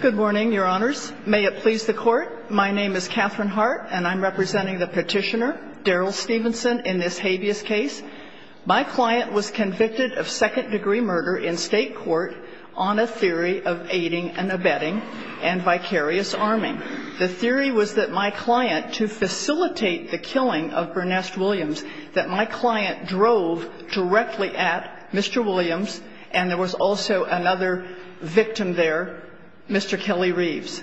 Good morning, Your Honors. May it please the Court, my name is Katherine Hart and I'm representing the petitioner, Darryl Stevenson, in this habeas case. My client was convicted of second-degree murder in state court on a theory of aiding and abetting and vicarious arming. The theory was that my client, to facilitate the killing of Bernice Williams, that my client drove directly at Mr. Williams and there was also another victim there, Mr. Kelly Reeves.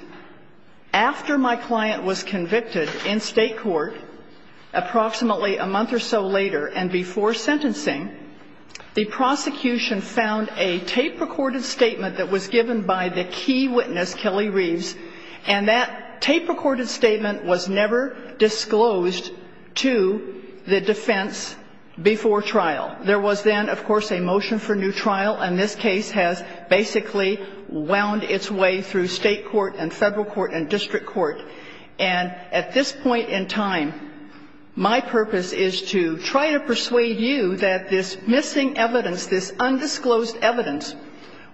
After my client was convicted in state court, approximately a month or so later and before sentencing, the prosecution found a tape-recorded statement that was given by the key witness, Kelly Reeves, and that tape-recorded statement was never disclosed to the defense before trial. There was then, of course, a motion for new trial, and this case has basically wound its way through state court and federal court and district court. And at this point in time, my purpose is to try to persuade you that this missing evidence, this undisclosed evidence,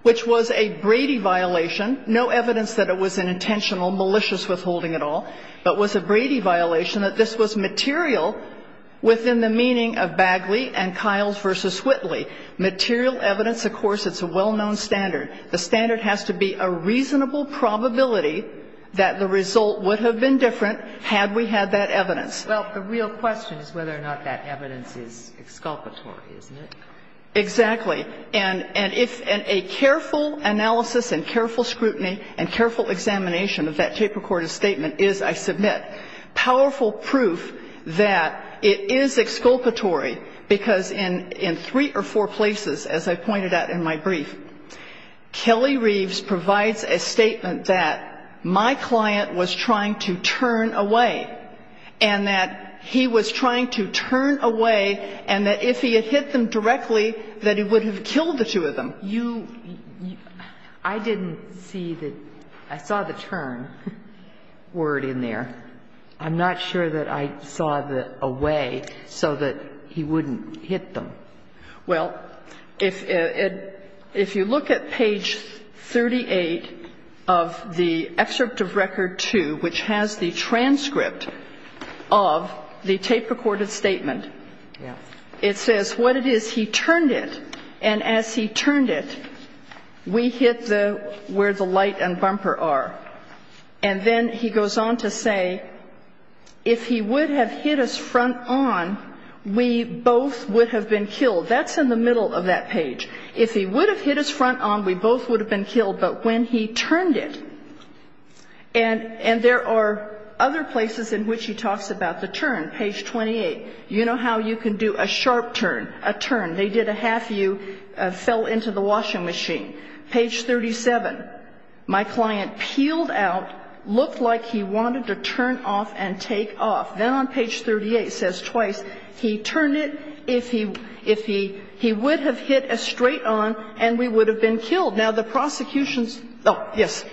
which was a Brady violation, no evidence that it was an intentional, malicious withholding at all, but was a Brady violation, that this was material within the meaning of Bagley and Kiles v. Whitley. Material evidence, of course, it's a well-known standard. The standard has to be a reasonable probability that the result would have been different had we had that evidence. Well, the real question is whether or not that evidence is exculpatory, isn't it? Exactly. And if a careful analysis and careful scrutiny and careful examination of that tape-recorded statement is, I submit, powerful proof that it is exculpatory because in three or four places, as I pointed out in my brief, Kelly Reeves provides a statement that my client was trying to turn away and that he was trying to turn away and that if he had hit them directly, that he would have killed the two of them. You – I didn't see the – I saw the turn word in there. I'm not sure that I saw the away so that he wouldn't hit them. Well, if it – if you look at page 38 of the excerpt of Record II, which has the transcript of the tape-recorded statement, it says what it is he turned it. And as he turned it, we hit the – where the light and bumper are. And then he goes on to say, if he would have hit us front on, we both would have been killed. That's in the middle of that page. If he would have hit us front on, we both would have been killed. But when he turned it – and there are other places in which he talks about the turn. Page 28, you know how you can do a sharp turn, a turn. They did a half you fell into the washing machine. Page 37, my client peeled out, looked like he wanted to turn off and take off. Then on page 38, it says twice, he turned it. If he – if he – he would have hit us straight on and we would have been killed. Now, the prosecution's – oh, yes.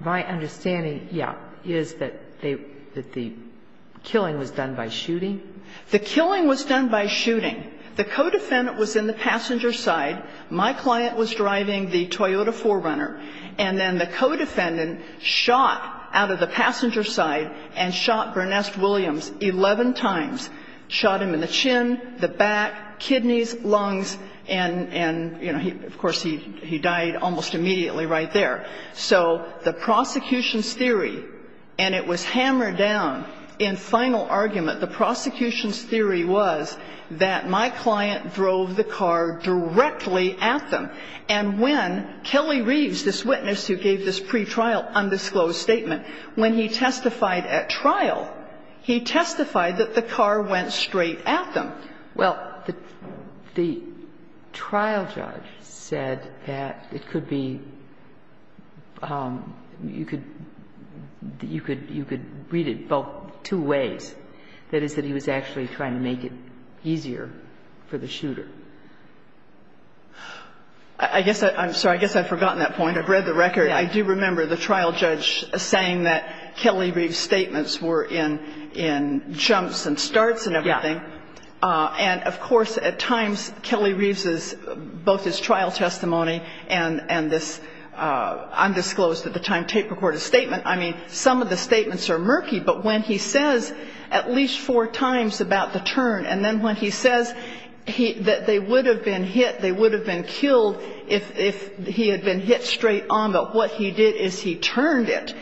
My understanding, yeah, is that they – that the killing was done by shooting? The killing was done by shooting. The co-defendant was in the passenger side. My client was driving the Toyota 4Runner. And then the co-defendant shot out of the passenger side and shot Bernest Williams 11 times, shot him in the chin, the back, kidneys, lungs, and, you know, of course, he died almost immediately right there. So the prosecution's theory, and it was hammered down in final argument, the prosecution's theory was that my client drove the car directly at them. And when Kelly Reeves, this witness who gave this pretrial undisclosed statement, when he testified at trial, he testified that the car went straight at them. Well, the trial judge said that it could be – you could read it both – two ways. That is, that he was actually trying to make it easier for the shooter. I guess – I'm sorry. I guess I've forgotten that point. I've read the record. I do remember the trial judge saying that Kelly Reeves' statements were in jumps and starts and everything. Yeah. And, of course, at times Kelly Reeves' both his trial testimony and this undisclosed at the time tape recorded statement, I mean, some of the statements are murky. But when he says at least four times about the turn, and then when he says that they would have been hit, they would have been killed if he had been hit straight on, but what he did is he turned it,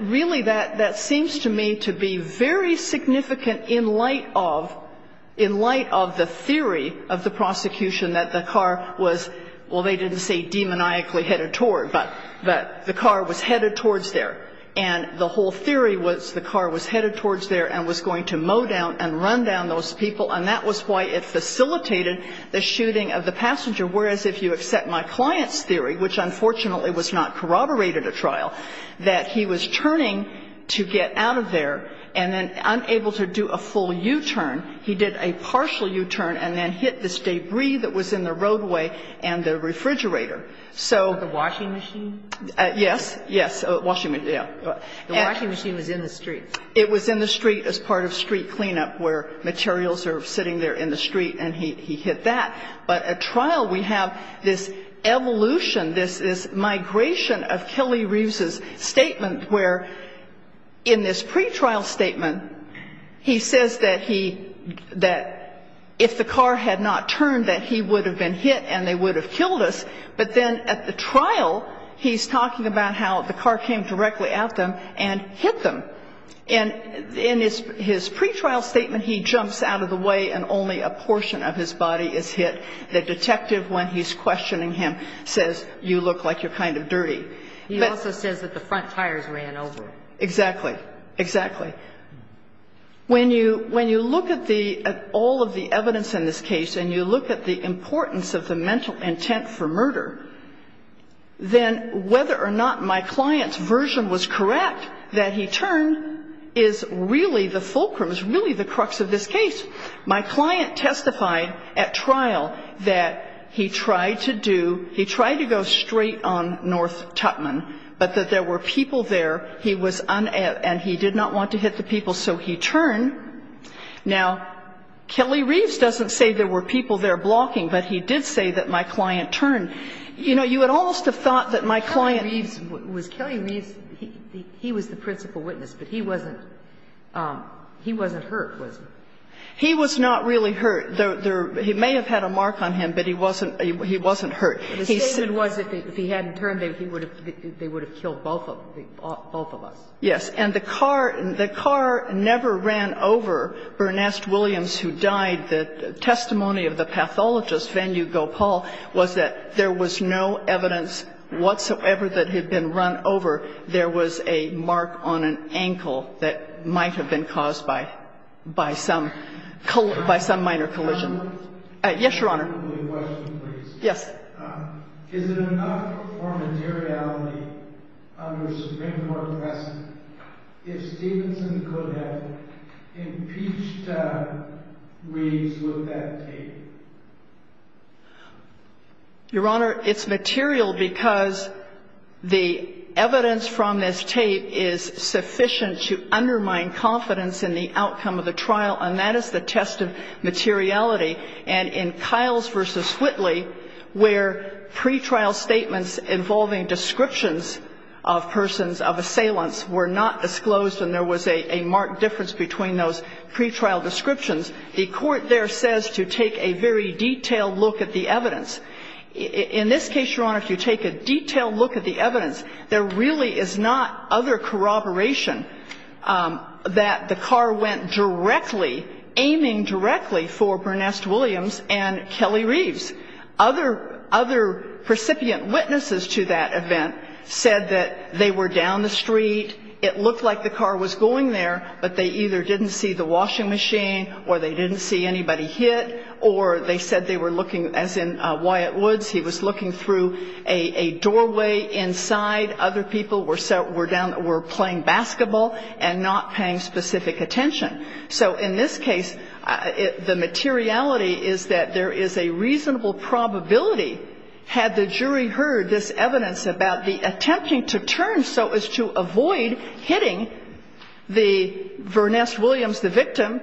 really that seems to me to be very significant in light of – in light of the theory of the prosecution that the car was – well, they didn't say demoniacally headed toward, but the car was headed towards there. And the whole theory was the car was headed towards there and was going to mow down and run down those people, and that was why it facilitated the shooting of the passenger, whereas if you accept my client's theory, which unfortunately was not corroborated at trial, that he was turning to get out of there and then unable to do a full U-turn. He did a partial U-turn and then hit this debris that was in the roadway and the refrigerator. So – The washing machine? Yes. Yes. Washing – yeah. The washing machine was in the street. It was in the street as part of street cleanup where materials are sitting there in the street, and he hit that. But at trial, we have this evolution, this migration of Kelly Reeves' statement where in this pretrial statement, he says that he – that if the car had not turned, that he would have been hit and they would have killed us. But then at the trial, he's talking about how the car came directly at them and hit them. And in his pretrial statement, he jumps out of the way and only a portion of his body is hit. The detective, when he's questioning him, says, you look like you're kind of dirty. He also says that the front tires ran over him. Exactly. Exactly. When you look at all of the evidence in this case and you look at the importance of the mental intent for murder, then whether or not my client's version was correct that he turned is really the fulcrum, is really the crux of this case. My client testified at trial that he tried to do – he tried to go straight on North Tutman, but that there were people there. He was – and he did not want to hit the people, so he turned. Now, Kelly Reeves doesn't say there were people there blocking, but he did say that my client turned. You know, you would almost have thought that my client – Was Kelly Reeves – he was the principal witness, but he wasn't hurt, was he? He was not really hurt. He may have had a mark on him, but he wasn't hurt. The statement was if he hadn't turned, they would have killed both of us. Yes. And the car never ran over Bernest Williams, who died. The testimony of the pathologist, Vanu Gopal, was that there was no evidence whatsoever that had been run over. There was a mark on an ankle that might have been caused by some minor collision. Yes, Your Honor. Can I ask you a question, please? Yes. Is it enough for materiality under Supreme Court precedent if Stevenson could have impeached Reeves with that tape? Your Honor, it's material because the evidence from this tape is sufficient to undermine confidence in the outcome of the trial, and that is the test of materiality. And in Kiles v. Whitley, where pretrial statements involving descriptions of persons of assailants were not disclosed and there was a marked difference between those pretrial descriptions, the Court there says to take a very detailed look at the evidence. In this case, Your Honor, if you take a detailed look at the evidence, there really is not other corroboration that the car went directly, aiming directly for Bernest Williams and Kelly Reeves. Other precipient witnesses to that event said that they were down the street, it looked like the car was going there, but they either didn't see the washing machine or they didn't see anybody hit or they said they were looking, as in Wyatt Woods, he was looking through a doorway inside, other people were playing basketball and not paying specific attention. So in this case, the materiality is that there is a reasonable probability, had the jury heard this evidence about the attempting to turn so as to avoid hitting the Bernest Williams, the victim,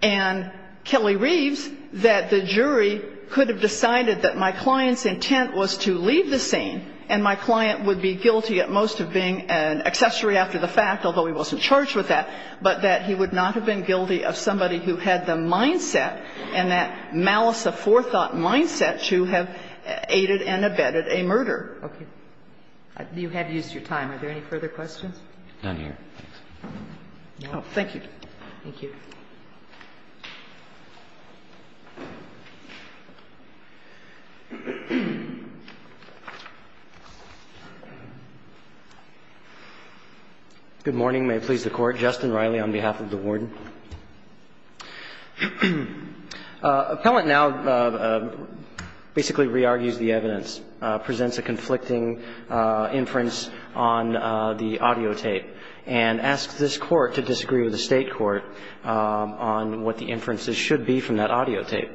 and Kelly Reeves, that the jury could have decided that my client's intent was to leave the scene and my client would be guilty at most of being an accessory after the fact, although he wasn't charged with that, but that he would not have been guilty of somebody who had the mindset and that malice of forethought mindset to have aided and abetted a murder. Kagan. You have used your time. Are there any further questions? None here. Thank you. Thank you. Good morning. May it please the Court. Justin Riley on behalf of the Warden. Appellant now basically re-argues the evidence, presents a conflicting inference on the audio tape, and asks this Court to disagree with the State court on what the inferences should be from that audio tape.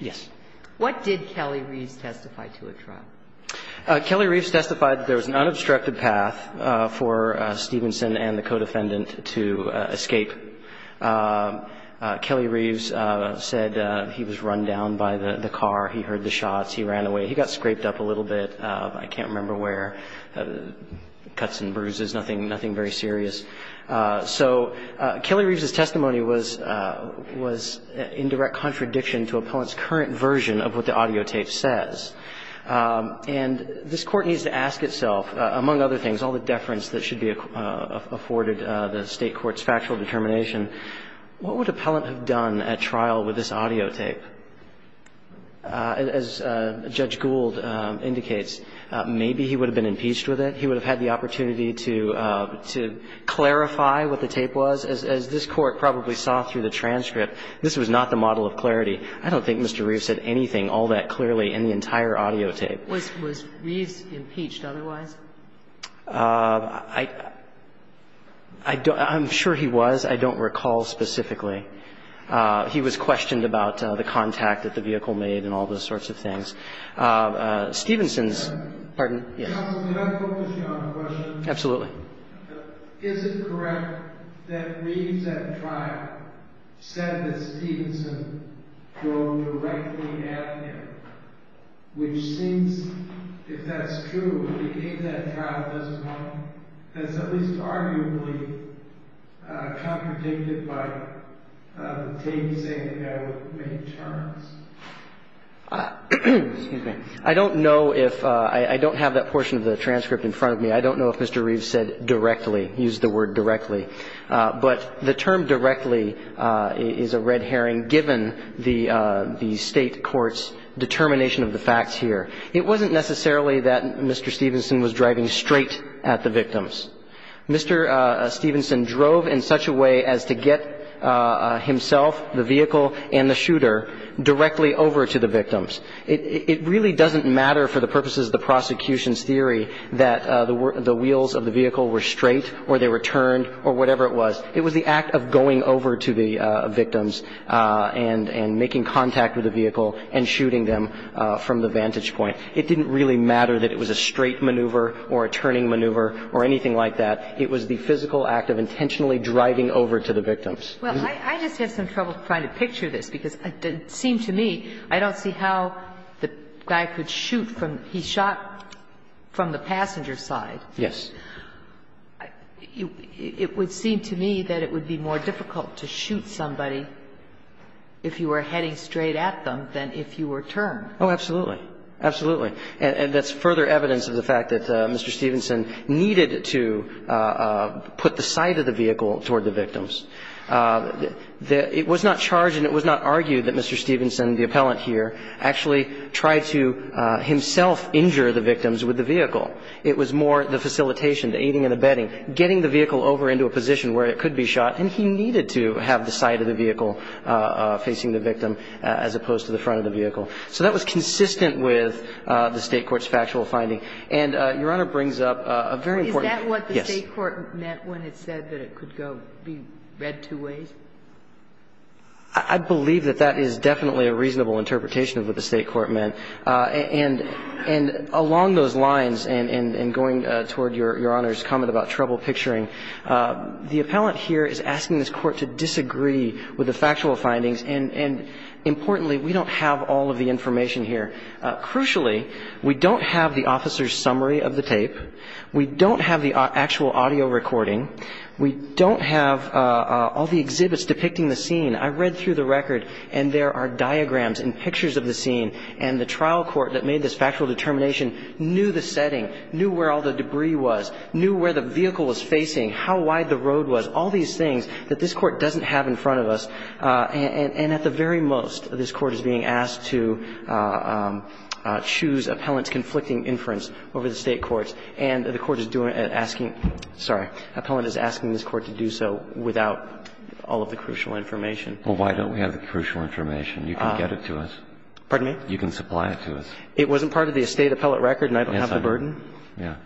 Yes. What did Kelly Reeves testify to at trial? Kelly Reeves testified that there was an unobstructed path for Stevenson and the co-defendant to escape. Kelly Reeves said he was run down by the car. He heard the shots. He ran away. He got scraped up a little bit. I can't remember where, cuts and bruises, nothing very serious. So Kelly Reeves' testimony was in direct contradiction to Appellant's current version of what the audio tape says. And this Court needs to ask itself, among other things, all the deference that should be afforded the State court's factual determination, what would Appellant have done at trial with this audio tape? As Judge Gould indicates, maybe he would have been impeached with it. He would have had the opportunity to clarify what the tape was. As this Court probably saw through the transcript, this was not the model of clarity. I don't think Mr. Reeves said anything all that clearly in the entire audio tape. Was Reeves impeached otherwise? I'm sure he was. I don't recall specifically. He was questioned about the contact that the vehicle made and all those sorts of things. Stevenson's- Pardon? Yes. Counsel, can I focus you on a question? Absolutely. Is it correct that Reeves at trial said that Stevenson drove directly at him, which seems, if that's true, in that trial that's at least arguably contradicted by the tape saying that he made turns? Excuse me. I don't know if- I don't have that portion of the transcript in front of me. I don't know if Mr. Reeves said directly, used the word directly. But the term directly is a red herring given the State court's determination of the facts here. It wasn't necessarily that Mr. Stevenson was driving straight at the victims. Mr. Stevenson drove in such a way as to get himself, the vehicle, and the shooter directly over to the victims. It really doesn't matter for the purposes of the prosecution's theory that the wheels of the vehicle were straight or they were turned or whatever it was. It was the act of going over to the victims and making contact with the vehicle and shooting them from the vantage point. It didn't really matter that it was a straight maneuver or a turning maneuver or anything like that. It was the physical act of intentionally driving over to the victims. Well, I just have some trouble trying to picture this because it seemed to me, I don't see how the guy could shoot from the passenger side. Yes. It would seem to me that it would be more difficult to shoot somebody if you were heading straight at them than if you were turned. Oh, absolutely. Absolutely. And that's further evidence of the fact that Mr. Stevenson needed to put the sight of the vehicle toward the victims. It was not charged and it was not argued that Mr. Stevenson, the appellant here, actually tried to himself injure the victims with the vehicle. It was more the facilitation, the aiding and abetting, getting the vehicle over into a position where it could be shot, and he needed to have the sight of the vehicle facing the victim as opposed to the front of the vehicle. So that was consistent with the State court's factual finding. And Your Honor brings up a very important point. Is that what the State court meant when it said that it could go be read two ways? I believe that that is definitely a reasonable interpretation of what the State court said. And along those lines, and going toward Your Honor's comment about trouble picturing, the appellant here is asking this Court to disagree with the factual findings, and importantly, we don't have all of the information here. Crucially, we don't have the officer's summary of the tape. We don't have the actual audio recording. We don't have all the exhibits depicting the scene. I read through the record, and there are diagrams and pictures of the scene. And the trial court that made this factual determination knew the setting, knew where all the debris was, knew where the vehicle was facing, how wide the road was, all these things that this Court doesn't have in front of us. And at the very most, this Court is being asked to choose appellant's conflicting inference over the State court's. And the Court is asking this Court to do so without all of the crucial information. Well, why don't we have the crucial information? You can get it to us. Pardon me? You can supply it to us. It wasn't part of the State appellant record, and I don't have the burden. Yes,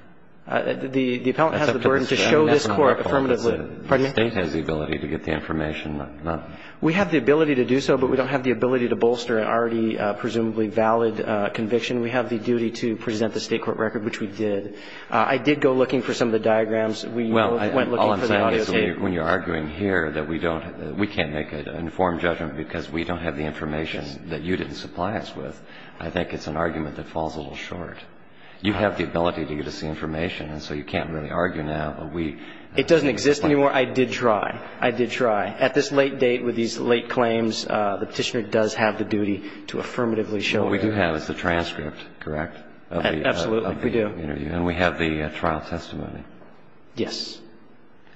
I know. Yeah. The appellant has the burden to show this Court affirmatively. The State has the ability to get the information. We have the ability to do so, but we don't have the ability to bolster an already presumably valid conviction. We have the duty to present the State court record, which we did. I did go looking for some of the diagrams. We went looking for the audio tape. When you're arguing here that we can't make an informed judgment because we don't have the information that you didn't supply us with, I think it's an argument that falls a little short. You have the ability to get us the information, and so you can't really argue now that we have the information. It doesn't exist anymore. I did try. I did try. At this late date with these late claims, the Petitioner does have the duty to affirmatively show it. What we do have is the transcript, correct? Absolutely. We do. And we have the trial testimony. Yes.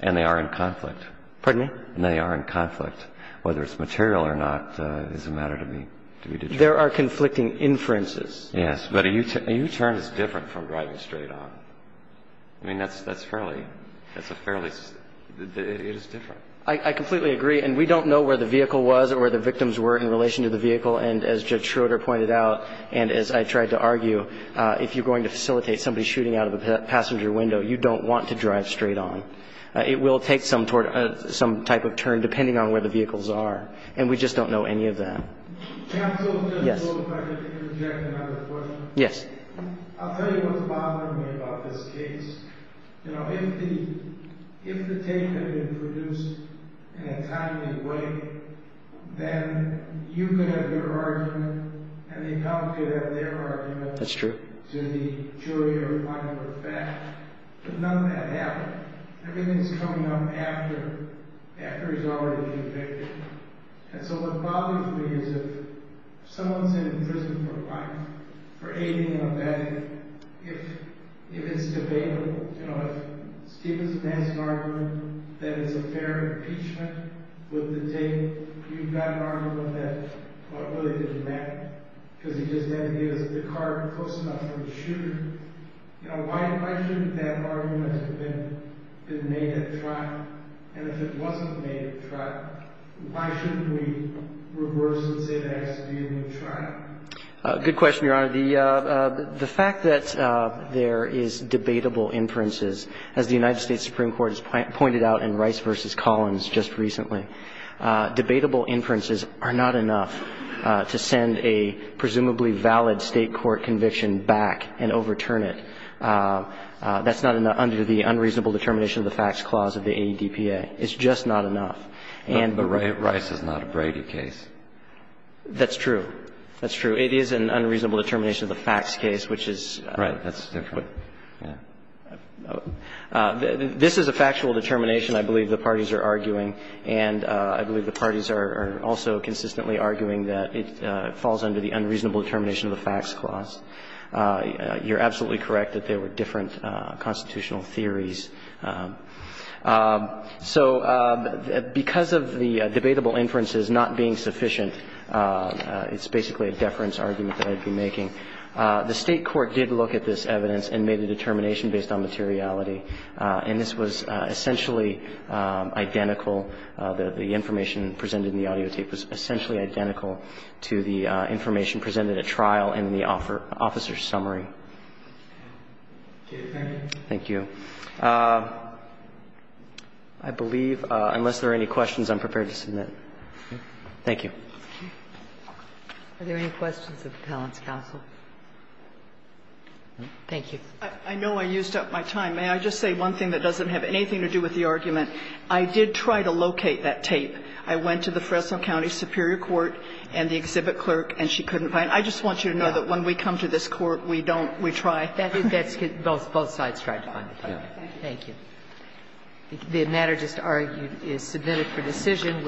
And they are in conflict. Pardon me? And they are in conflict. Whether it's material or not is a matter to be determined. There are conflicting inferences. Yes. But a U-turn is different from driving straight on. I mean, that's fairly – that's a fairly – it is different. I completely agree. And we don't know where the vehicle was or where the victims were in relation to the vehicle. And as Judge Schroeder pointed out, and as I tried to argue, if you're going to facilitate somebody shooting out of a passenger window, you don't want to drive straight on. It will take some type of turn, depending on where the vehicles are. And we just don't know any of that. May I follow up just a little, if I could interject another question? Yes. I'll tell you what's bothering me about this case. You know, if the tape had been produced in a timely way, then you could have your argument and the accountant could have their argument. That's true. You could have your argument to the jury, everybody would have backed. But none of that happened. Everything's coming up after he's already been convicted. And so what bothers me is if someone's in prison for life, for aiding and abetting, if it's debatable, you know, if Stevenson has an argument that it's a fair impeachment with the tape, you've got an argument that really didn't matter because he just had to get his card close enough to the jury. You know, why shouldn't that argument have been made at trial? And if it wasn't made at trial, why shouldn't we reverse and say that it's being tried? Good question, Your Honor. The fact that there is debatable inferences, as the United States Supreme Court has pointed out in Rice v. Collins just recently, debatable inferences are not enough to send a presumably valid State court conviction back and overturn it. That's not under the unreasonable determination of the FACTS clause of the ADPA. It's just not enough. And the right of Rice is not a Brady case. That's true. That's true. It is an unreasonable determination of the FACTS case, which is. Right. That's different. This is a factual determination I believe the parties are arguing, and I believe the parties are also consistently arguing that it falls under the unreasonable determination of the FACTS clause. You're absolutely correct that there were different constitutional theories. So because of the debatable inferences not being sufficient, it's basically a deference argument that I'd be making. The State court did look at this evidence and made a determination based on materiality, and this was essentially identical. The information presented in the audio tape was essentially identical to the information presented at trial in the officer's summary. Thank you. I believe, unless there are any questions, I'm prepared to submit. Thank you. Are there any questions of the Appellant's counsel? Thank you. I know I used up my time. May I just say one thing that doesn't have anything to do with the argument? I did try to locate that tape. I went to the Fresno County Superior Court and the exhibit clerk, and she couldn't find it. I just want you to know that when we come to this Court, we don't we try. Both sides tried to find it. Thank you. The matter just argued is submitted for decision.